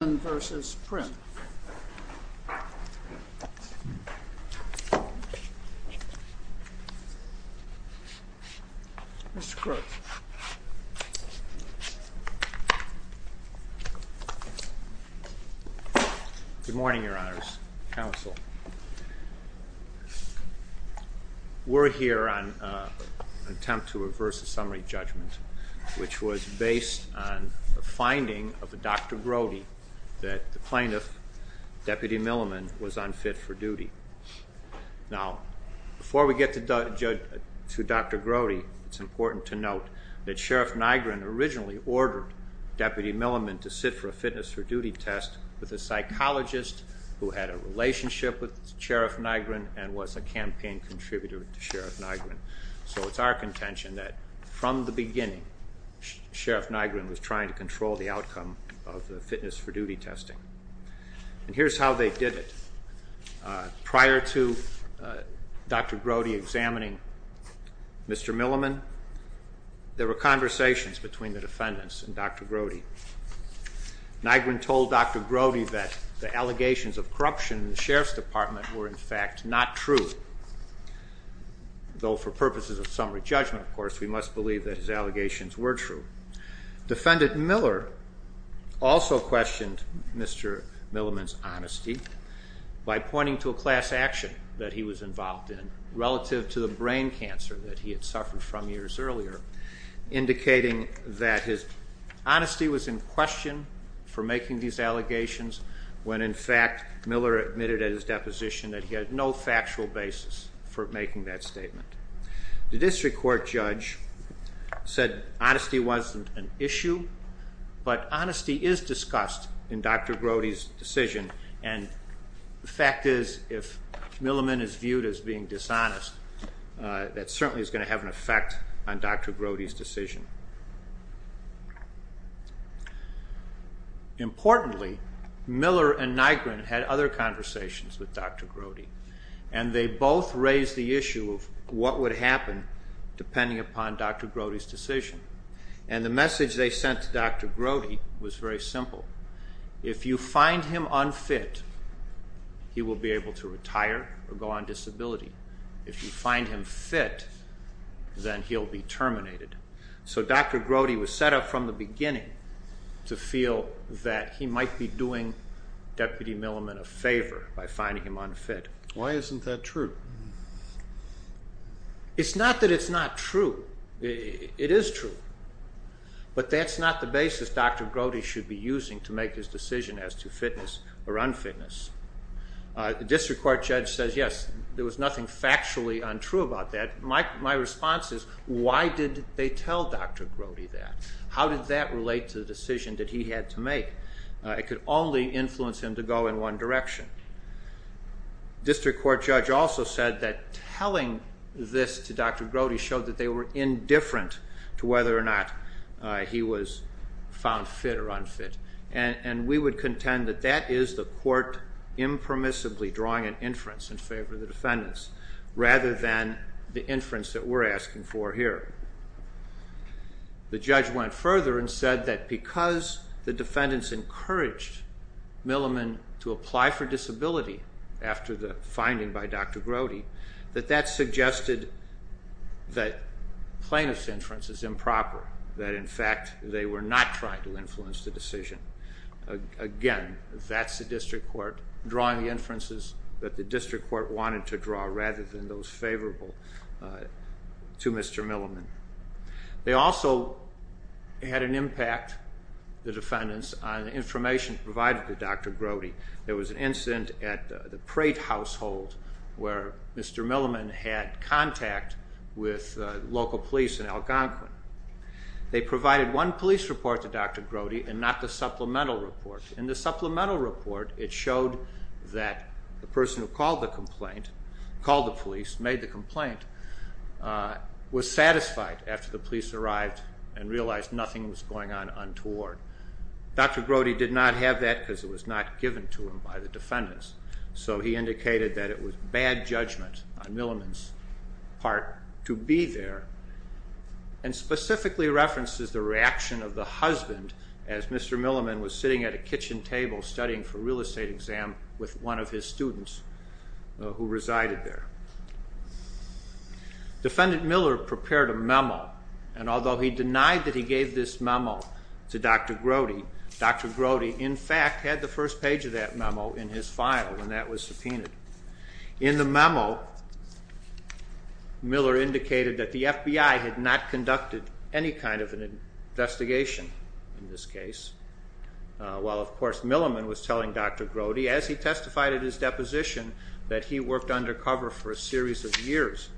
Good morning, Your Honors, Counsel. We're here on an attempt to reverse a summary judgment which was based on a finding of a Dr. Grody that the plaintiff, Deputy Milliman, was unfit for duty. Now, before we get to Dr. Grody, it's important to note that Sheriff Nygren originally ordered Deputy Milliman to sit for a fitness for duty test with a psychologist who had a relationship with Sheriff Nygren and was a campaign contributor to Sheriff Nygren. So it's our contention that from the beginning, Sheriff Nygren was trying to control the outcome of the fitness for duty testing. And here's how they did it. Prior to Dr. Grody examining Mr. Milliman, there were conversations between the defendants and Dr. Grody. Nygren told Dr. Grody that the allegations of corruption in the Sheriff's Department were, in fact, not true. Though for purposes of summary judgment, of course, we must believe that his allegations were true. Defendant Miller also questioned Mr. Milliman's honesty by pointing to a class action that he was involved in relative to the brain cancer that he had He was in question for making these allegations when, in fact, Miller admitted at his deposition that he had no factual basis for making that statement. The district court judge said honesty wasn't an issue, but honesty is discussed in Dr. Grody's decision. And the fact is, if Milliman is viewed as being dishonest, that certainly is going to have an effect on Dr. Grody's decision. Importantly, Miller and Nygren had other conversations with Dr. Grody, and they both raised the issue of what would happen depending upon Dr. Grody's decision. And the message they sent to Dr. Grody was very simple. If you find him unfit, he will be able to retire or go on disability. If you find him fit, then he'll be terminated. So Dr. Grody was set up from the beginning to feel that he might be doing Deputy Milliman a favor by finding him unfit. Why isn't that true? It's not that it's not true. It is true. But that's not the basis Dr. Grody should be using to make his decision as to fitness or unfitness. The district court judge says, yes, there was nothing factually untrue about that. My response is, why did they tell Dr. Grody that? How did that relate to the decision that he had to make? It could only influence him to go in one direction. District court judge also said that telling this to Dr. Grody showed that they were indifferent to whether or not he was found fit or unfit. And we would contend that that is the court impermissibly drawing an inference in favor of the defendants rather than the inference that we're asking for here. The judge went further and said that because the defendants encouraged Milliman to apply for disability after the finding by Dr. Grody, that that suggested that plaintiff's inference is improper, that in fact they were not trying to influence the decision. Again, that's the district court drawing the inferences that the district court wanted to draw rather than those favorable to Mr. Milliman. They also had an impact, the defendants, on information provided to Dr. Grody. There was an incident at the Prate household where Mr. Milliman had contact with local police in Algonquin. They provided one police report to Dr. Grody and not the supplemental report. In the supplemental report it showed that the person who called the police, made the complaint, was satisfied after the police arrived and realized nothing was going on untoward. Dr. Grody did not have that because it was not given to him by the defendants. So he indicated that it was bad judgment on Milliman's part to be there. And specifically references the reaction of the husband as Mr. Milliman was sitting at a kitchen table studying for a real estate exam with one of his students who resided there. Defendant Miller prepared a memo and although he denied that he gave this memo to Dr. Grody, Dr. Grody in fact had the first page of that memo in his file and that was subpoenaed. In the memo, Miller indicated that the FBI had not conducted any kind of an investigation in this case. While of course Milliman was telling Dr. Grody as he testified at his deposition that he worked undercover for a series of years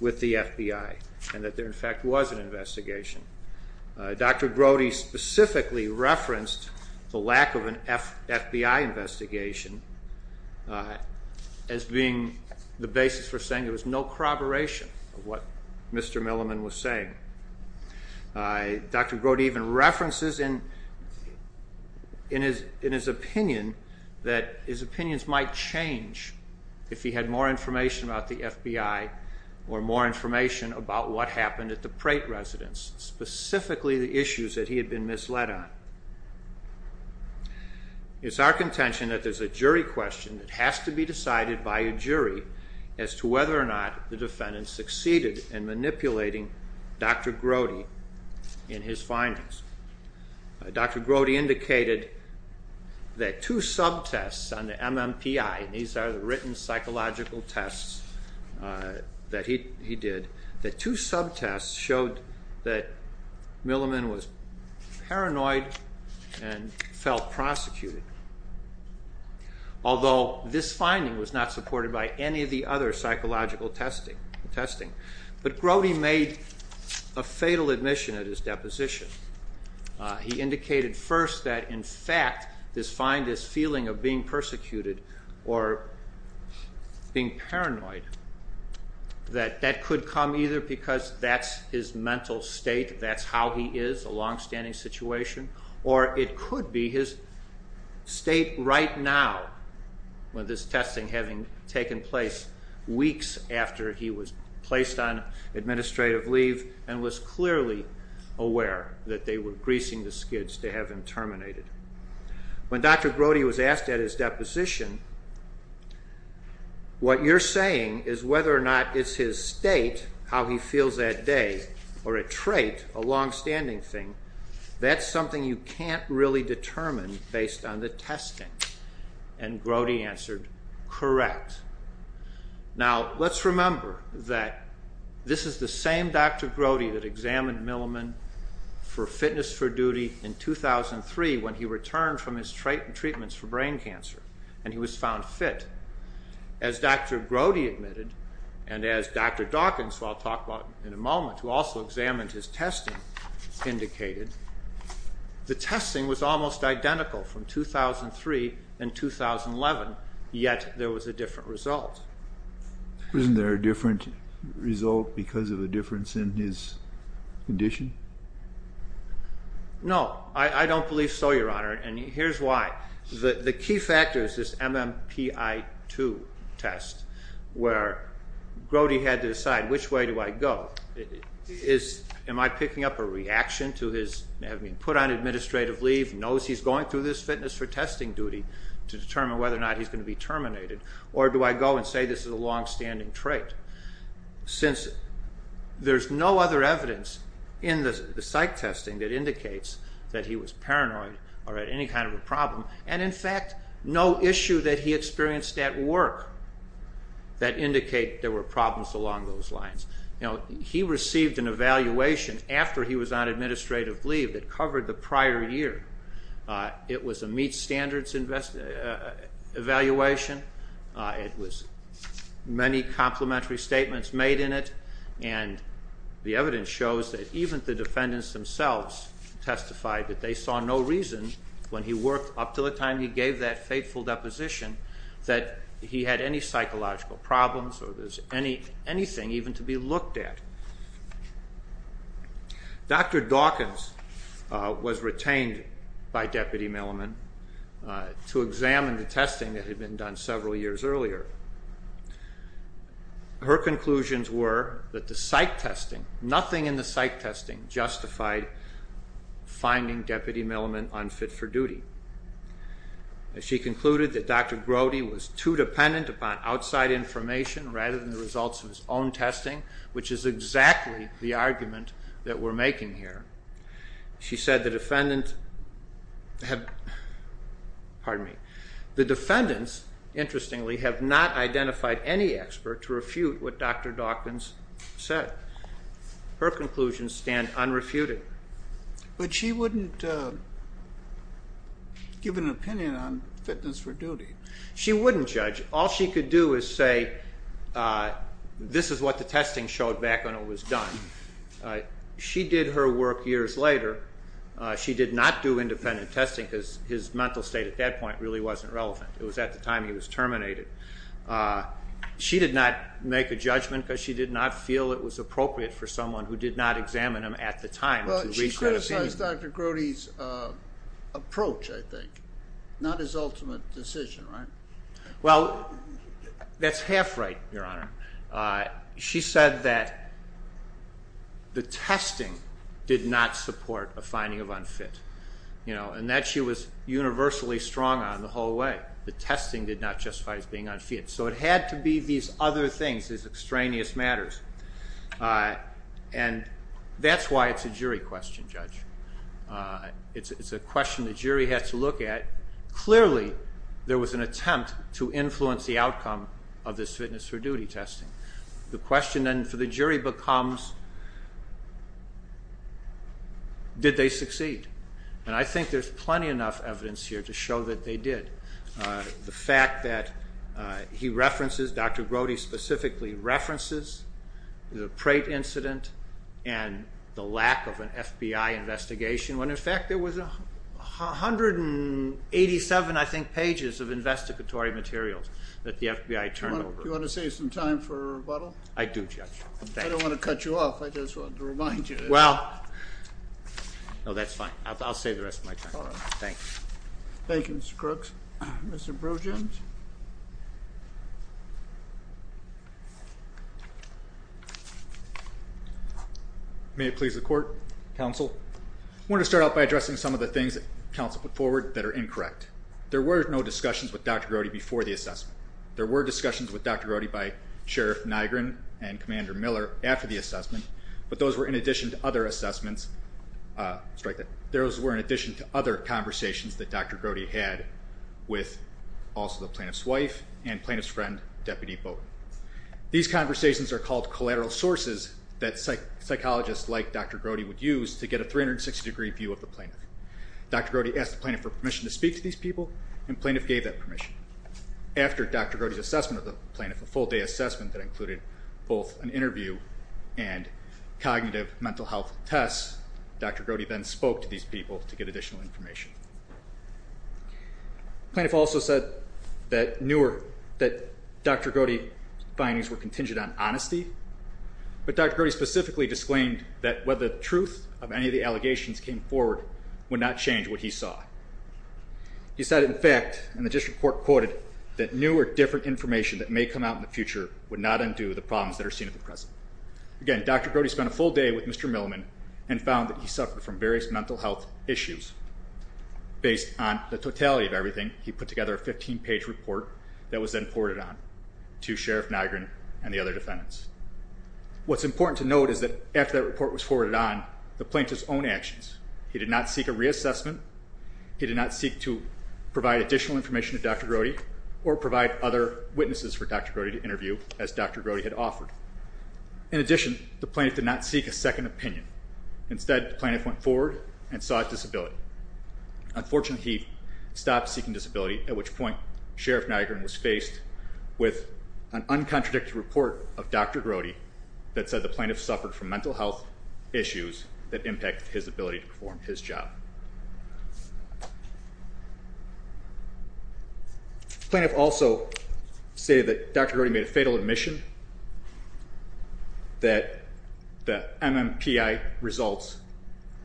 with the FBI and that there in fact was an investigation. Dr. Grody specifically referenced the lack of an FBI investigation as being the basis for saying there was no corroboration of what Mr. Milliman was saying. Dr. Grody even references in his opinion that his opinions might change if he had more information about the FBI or more information about what happened at the Prate residence, specifically the issues that he had been misled on. It is our contention that there is a jury question that has to be decided by a jury as to whether or not the defendant succeeded in manipulating Dr. Grody in his findings. Dr. Grody indicated that two subtests on the MMPI, these are the written psychological tests that he did, that two subtests showed that Milliman was paranoid and felt prosecuted. Although this finding was not supported by any of the other psychological testing, but Grody made a fatal admission at his deposition. He indicated first that in fact this finding, this feeling of being persecuted or being paranoid, that that could come either because that's his mental state, that's how he is, a long-standing situation, or it could be his state right now with this testing having taken place weeks after he was placed on administrative leave and was clearly aware that they were greasing the skids to have him terminated. When Dr. Grody was asked at his deposition, what you're saying is whether or not it's his state, how he feels that day, or a trait, a long-standing thing, that's something you can't really determine based on the testing. Grody answered, correct. Now, let's remember that this is the same Dr. Grody that examined Milliman for Fitness for Duty in 2003 when he returned from his treatments for brain cancer and he was found fit. As Dr. Grody admitted, and as Dr. Dawkins, who I'll talk about in a moment, who also examined his testing, indicated, the testing was almost identical from 2003 and 2011, yet there was a different result. Isn't there a different result because of a difference in his condition? No, I don't believe so, Your Honor, and here's why. The key factor is this MMPI-2 test where Grody had to decide, which way do I go? Am I picking up a reaction to his having been put on administrative leave, knows he's going through this Fitness for Testing duty to determine whether or not he's going to be terminated, or do I go and say this is a long-standing trait? Since there's no other evidence in the psych testing that indicates that he was paranoid or had any kind of a problem, and in fact, no issue that he experienced at work that indicate there were problems along those lines. Now, he received an evaluation after he was on administrative leave that covered the prior year. It was a meet standards evaluation. It was many complimentary statements made in it, and the evidence shows that even the defendants themselves testified that they saw no reason when he worked up to the time he gave that fateful deposition that he had any psychological problems or there's anything even to be looked at. Dr. Dawkins was retained by Deputy Milliman to examine the testing that had been done several years earlier. Her conclusions were that the psych testing, nothing in the psych testing justified finding Deputy Milliman unfit for duty. She concluded that Dr. Grody was too dependent upon outside information rather than the results of his own testing, which is exactly the argument that we're making here. She said the defendant, pardon me, the defendants, interestingly, have not identified any expert to refute what Dr. Dawkins said. Her conclusions stand unrefuted. But she wouldn't give an opinion on fitness for duty. She wouldn't judge. All she could do is say this is what the testing showed back when it was done. She did her work years later. She did not do independent testing because his mental state at that point really wasn't relevant. It was at the time he was terminated. She did not make a judgment because she did not feel it was appropriate for someone who did not examine him at the time to reach that opinion. She criticized Dr. Grody's approach, I think, not his ultimate decision, right? Well, that's half right, Your Honor. She said that the testing did not support a finding of unfit and that she was universally strong on the whole way. The testing did not justify his being unfit. So it had to be these other things, these extraneous matters. And that's why it's a jury question, Judge. It's a question the jury has to look at. Clearly, there was an attempt to influence the outcome of this fitness for duty testing. The question then for the jury becomes did they succeed? And I think there's plenty enough evidence here to show that they did. The fact that he references, Dr. Grody specifically references, the Prate incident and the lack of an FBI investigation, when in fact there was 187, I think, pages of investigatory materials that the FBI turned over. Do you want to save some time for rebuttal? I do, Judge. I don't want to cut you off. I just wanted to remind you. Well, no, that's fine. I'll save the rest of my time. All right. Thank you, Mr. Crooks. Mr. Brojims. May it please the Court. Counsel. I want to start out by addressing some of the things that counsel put forward that are incorrect. There were no discussions with Dr. Grody before the assessment. There were discussions with Dr. Grody by Sheriff Nygren and Commander Miller after the assessment, but those were in addition to other assessments. Those were in addition to other conversations that Dr. Grody had with also the plaintiff's wife and plaintiff's friend, Deputy Bowden. These conversations are called collateral sources that psychologists like Dr. Grody would use to get a 360-degree view of the plaintiff. Dr. Grody asked the plaintiff for permission to speak to these people, and the plaintiff gave that permission. After Dr. Grody's assessment of the plaintiff, a full-day assessment that included both an interview and cognitive mental health tests, Dr. Grody then spoke to these people to get additional information. The plaintiff also said that Dr. Grody's findings were contingent on honesty, but Dr. Grody specifically disclaimed that whether the truth of any of the allegations came forward would not change what he saw. He said, in fact, and the district court quoted, that new or different information that may come out in the future would not undo the problems that are seen at the present. Again, Dr. Grody spent a full day with Mr. Milliman and found that he suffered from various mental health issues. Based on the totality of everything, he put together a 15-page report that was then forwarded on to Sheriff Nygren and the other defendants. What's important to note is that after that report was forwarded on, the plaintiff's own actions. He did not seek a reassessment. He did not seek to provide additional information to Dr. Grody or provide other witnesses for Dr. Grody to interview, as Dr. Grody had offered. In addition, the plaintiff did not seek a second opinion. Instead, the plaintiff went forward and sought disability. Unfortunately, he stopped seeking disability, at which point Sheriff Nygren was faced with an uncontradicted report of Dr. Grody that said the plaintiff suffered from mental health issues that impacted his ability to perform his job. The plaintiff also stated that Dr. Grody made a fatal admission that the MMPI results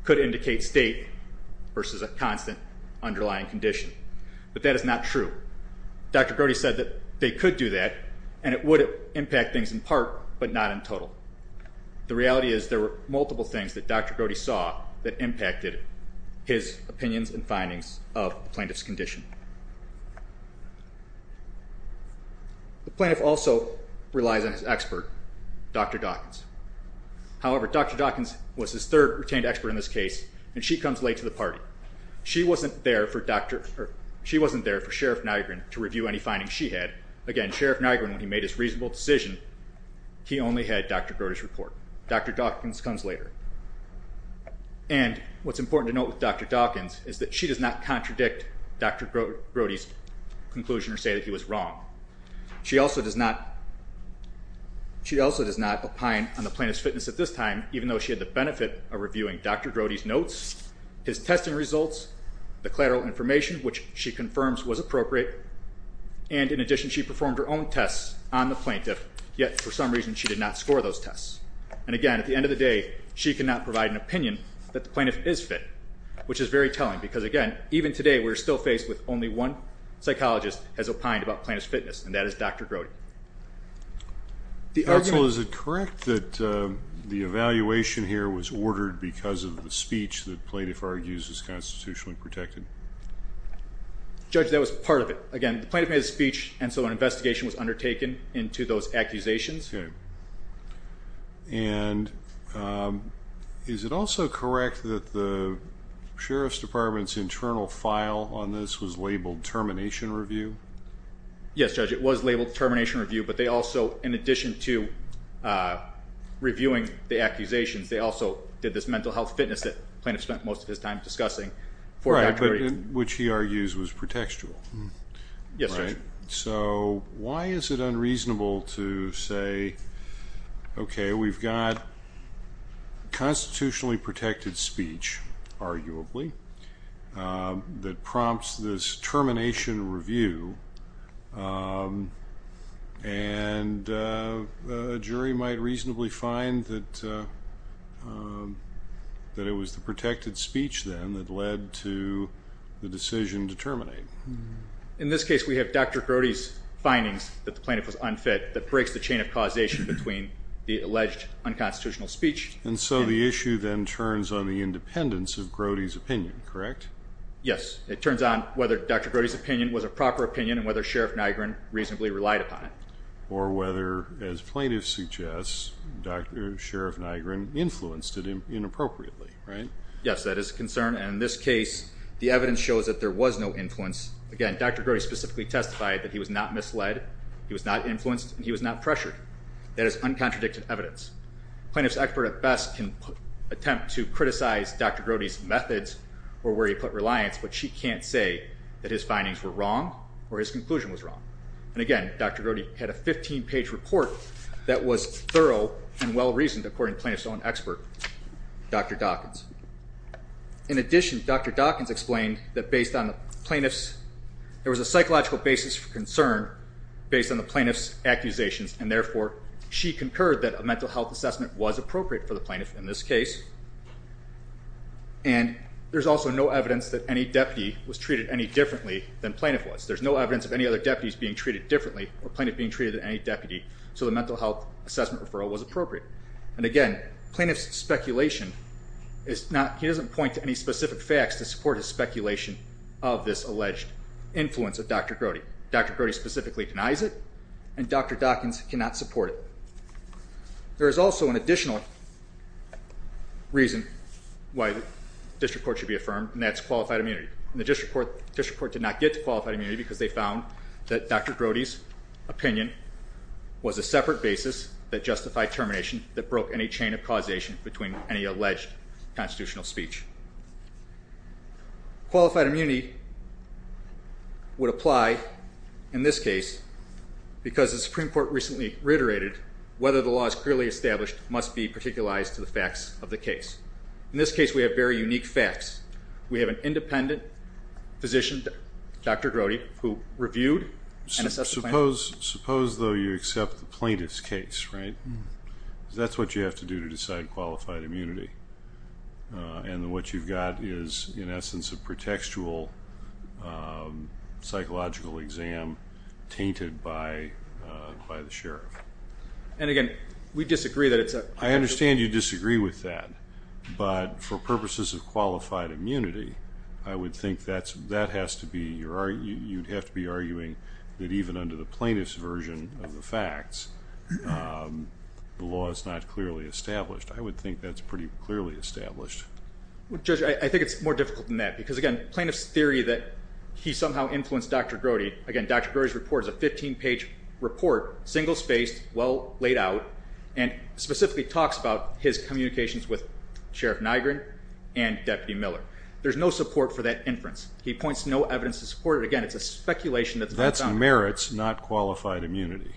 could indicate state versus a constant underlying condition. But that is not true. Dr. Grody said that they could do that, and it would impact things in part, but not in total. The reality is there were multiple things that Dr. Grody saw that impacted his opinions and findings of the plaintiff's condition. The plaintiff also relies on his expert, Dr. Dawkins. However, Dr. Dawkins was his third retained expert in this case, and she comes late to the party. She wasn't there for Sheriff Nygren to review any findings she had. Again, Sheriff Nygren, when he made his reasonable decision, he only had Dr. Grody's report. Dr. Dawkins comes later. And what's important to note with Dr. Dawkins is that she does not contradict Dr. Grody's conclusion or say that he was wrong. She also does not opine on the plaintiff's fitness at this time, even though she had the benefit of reviewing Dr. Grody's notes, his testing results, the collateral information, which she confirms was appropriate. And in addition, she performed her own tests on the plaintiff, yet for some reason she did not score those tests. And again, at the end of the day, she cannot provide an opinion that the plaintiff is fit, which is very telling, because, again, even today we're still faced with only one psychologist has opined about plaintiff's fitness, and that is Dr. Grody. Counsel, is it correct that the evaluation here was ordered because of the speech the plaintiff argues is constitutionally protected? Judge, that was part of it. Again, the plaintiff made a speech, and so an investigation was undertaken into those accusations. And is it also correct that the Sheriff's Department's internal file on this was labeled Termination Review? Yes, Judge. It was labeled Termination Review, but they also, in addition to reviewing the accusations, they also did this mental health fitness that the plaintiff spent most of his time discussing for Dr. Grody. Right, which he argues was pretextual. Yes, Judge. So why is it unreasonable to say, okay, we've got constitutionally protected speech, arguably, that prompts this termination review, and a jury might reasonably find that it was the protected speech, then, that led to the decision to terminate? In this case, we have Dr. Grody's findings that the plaintiff was unfit, that breaks the chain of causation between the alleged unconstitutional speech. And so the issue then turns on the independence of Grody's opinion, correct? Yes. It turns on whether Dr. Grody's opinion was a proper opinion and whether Sheriff Nygren reasonably relied upon it. Or whether, as plaintiffs suggest, Sheriff Nygren influenced it inappropriately, right? Yes, that is a concern. And in this case, the evidence shows that there was no influence. Again, Dr. Grody specifically testified that he was not misled, he was not influenced, and he was not pressured. That is uncontradicted evidence. Plaintiff's expert at best can attempt to criticize Dr. Grody's methods or where he put reliance, but she can't say that his findings were wrong or his conclusion was wrong. And again, Dr. Grody had a 15-page report that was thorough and well-reasoned, according to plaintiff's own expert, Dr. Dawkins. In addition, Dr. Dawkins explained that there was a psychological basis for concern based on the plaintiff's accusations, and therefore she concurred that a mental health assessment was appropriate for the plaintiff in this case. And there's also no evidence that any deputy was treated any differently than plaintiff was. There's no evidence of any other deputies being treated differently or plaintiff being treated than any deputy, so the mental health assessment referral was appropriate. And again, plaintiff's speculation is notóhe doesn't point to any specific facts to support his speculation of this alleged influence of Dr. Grody. Dr. Grody specifically denies it, and Dr. Dawkins cannot support it. There is also an additional reason why this report should be affirmed, and that's qualified immunity. The district court did not get to qualified immunity because they found that Dr. Grody's opinion was a separate basis that justified termination that broke any chain of causation between any alleged constitutional speech. Qualified immunity would apply in this case because the Supreme Court recently reiterated whether the law is clearly established must be particularized to the facts of the case. In this case, we have very unique facts. We have an independent physician, Dr. Grody, who reviewed and assessed the plaintiff. Suppose, though, you accept the plaintiff's case, right? Because that's what you have to do to decide qualified immunity. And what you've got is, in essence, a pretextual psychological exam tainted by the sheriff. And again, we disagree that it's aó I understand you disagree with that, but for purposes of qualified immunity, I would think that has to beóyou'd have to be arguing that even under the plaintiff's version of the facts, the law is not clearly established. I would think that's pretty clearly established. Well, Judge, I think it's more difficult than that because, again, plaintiff's theory that he somehow influenced Dr. Grodyóagain, Dr. Grody's report is a 15-page report, single-spaced, well laid out, and specifically talks about his communications with Sheriff Nygren and Deputy Miller. There's no support for that inference. He points to no evidence to support it. Again, it's a speculation that's not found. That's merits, not qualified immunity.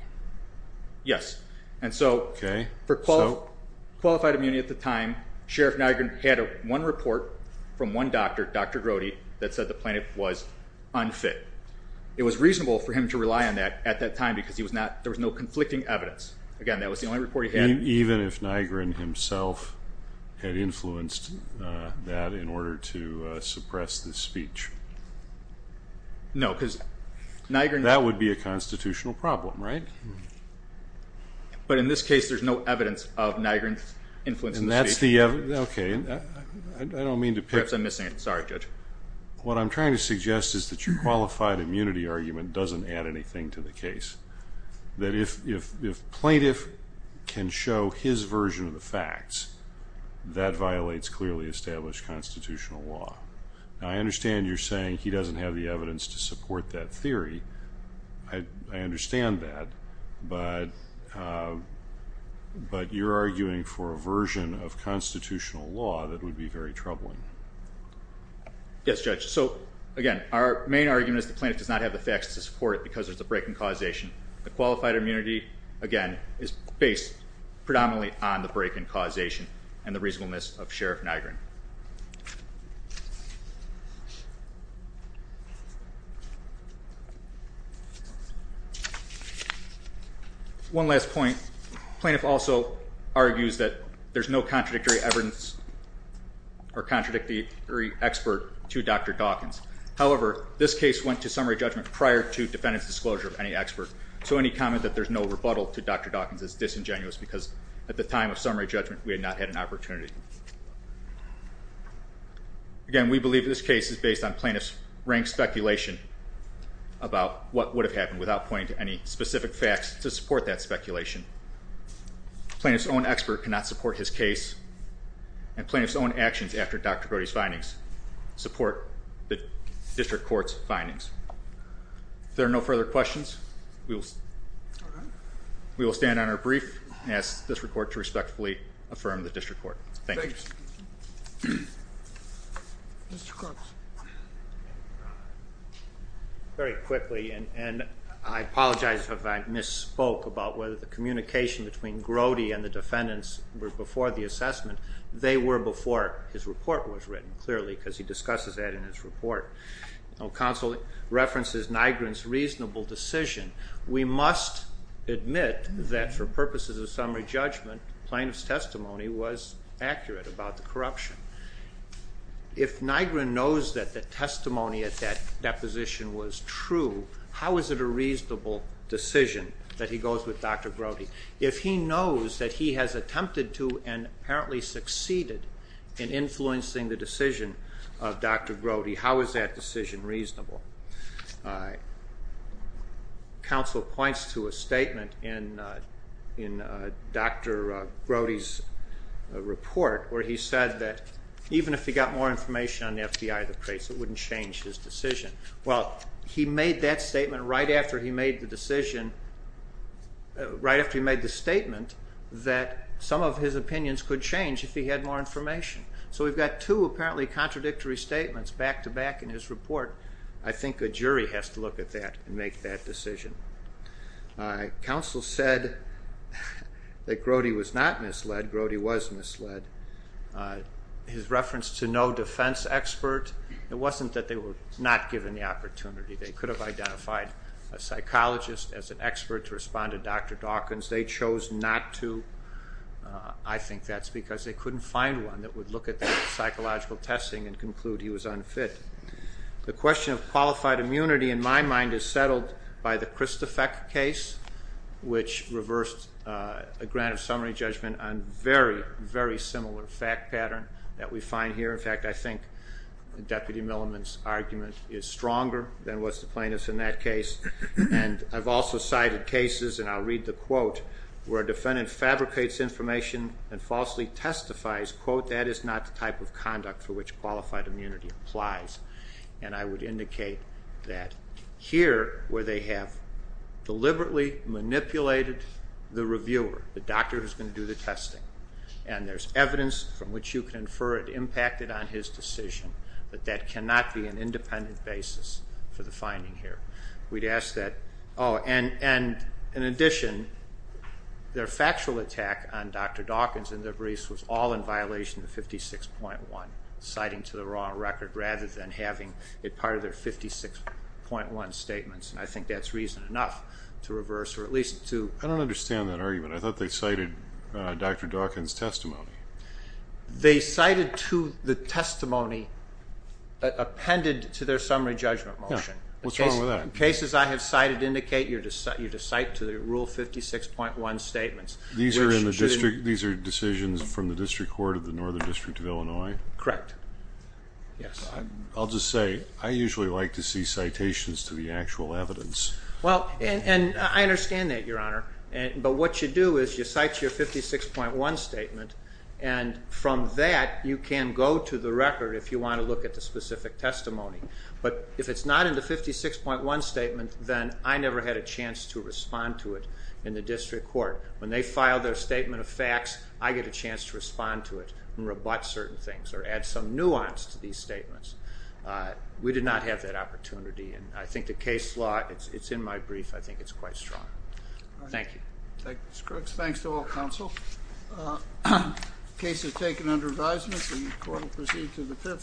Yes. Okay. And so for qualified immunity at the time, Sheriff Nygren had one report from one doctor, Dr. Grody, that said the plaintiff was unfit. It was reasonable for him to rely on that at that time because he was notóthere was no conflicting evidence. Again, that was the only report he had. Even if Nygren himself had influenced that in order to suppress the speech? No, because Nygrenó That would be a constitutional problem, right? But in this case, there's no evidence of Nygren's influence in the speech. And that's theóokay. I don't mean to pickó Perhaps I'm missing it. Sorry, Judge. What I'm trying to suggest is that your qualified immunity argument doesn't add anything to the case, that if plaintiff can show his version of the facts, that violates clearly established constitutional law. Now, I understand you're saying he doesn't have the evidence to support that theory. I understand that, but you're arguing for a version of constitutional law that would be very troubling. Yes, Judge. So, again, our main argument is the plaintiff does not have the facts to support it because there's a break in causation. The qualified immunity, again, is based predominantly on the break in causation and the reasonableness of Sheriff Nygren. One last point. Plaintiff also argues that there's no contradictory evidence or contradictory expert to Dr. Dawkins. However, this case went to summary judgment prior to defendant's disclosure of any expert, so any comment that there's no rebuttal to Dr. Dawkins is disingenuous because at the time of summary judgment we had not had an opportunity. Again, we believe this case is based on plaintiff's rank speculation about what would have happened without pointing to any specific facts to support that speculation. Plaintiff's own expert cannot support his case and plaintiff's own actions after Dr. Brody's findings support the district court's findings. If there are no further questions, we will stand on our brief. I ask this report to respectfully affirm the district court. Thank you. Thank you. Mr. Crooks. Very quickly, and I apologize if I misspoke about whether the communication between Brody and the defendants were before the assessment. They were before his report was written, clearly, because he discusses that in his report. Counsel references Nygren's reasonable decision. We must admit that for purposes of summary judgment, plaintiff's testimony was accurate about the corruption. If Nygren knows that the testimony at that deposition was true, how is it a reasonable decision that he goes with Dr. Brody? If he knows that he has attempted to and apparently succeeded in influencing the decision of Dr. Brody, how is that decision reasonable? Counsel points to a statement in Dr. Brody's report where he said that even if he got more information on the FDI of the case, it wouldn't change his decision. Well, he made that statement right after he made the statement that some of his opinions could change if he had more information. So we've got two apparently contradictory statements back-to-back in his report. I think a jury has to look at that and make that decision. Counsel said that Brody was not misled. Brody was misled. His reference to no defense expert, it wasn't that they were not given the opportunity. They could have identified a psychologist as an expert to respond to Dr. Dawkins. They chose not to. I think that's because they couldn't find one that would look at the psychological testing and conclude he was unfit. The question of qualified immunity in my mind is settled by the Christofek case, which reversed a grant of summary judgment on a very, very similar fact pattern that we find here. In fact, I think Deputy Milliman's argument is stronger than was the plaintiff's in that case. And I've also cited cases, and I'll read the quote, where a defendant fabricates information and falsely testifies, quote, that is not the type of conduct for which qualified immunity applies. And I would indicate that here where they have deliberately manipulated the reviewer, the doctor who's going to do the testing, and there's evidence from which you can infer it impacted on his decision, but that cannot be an independent basis for the finding here. We'd ask that, oh, and in addition, their factual attack on Dr. Dawkins and their briefs was all in violation of 56.1, citing to the wrong record, rather than having it part of their 56.1 statements. And I think that's reason enough to reverse or at least to... I don't understand that argument. I thought they cited Dr. Dawkins' testimony. They cited the testimony appended to their summary judgment motion. What's wrong with that? The cases I have cited indicate you're to cite to the rule 56.1 statements. These are decisions from the District Court of the Northern District of Illinois? Correct, yes. I'll just say I usually like to see citations to the actual evidence. Well, and I understand that, Your Honor, but what you do is you cite your 56.1 statement, and from that you can go to the record if you want to look at the specific testimony. But if it's not in the 56.1 statement, then I never had a chance to respond to it in the District Court. When they file their statement of facts, I get a chance to respond to it and rebut certain things or add some nuance to these statements. We did not have that opportunity, and I think the case law, it's in my brief, I think it's quite strong. Thank you. Thank you, Mr. Crooks. Thanks to all counsel. The case is taken under advisement, and the court will proceed to the fifth.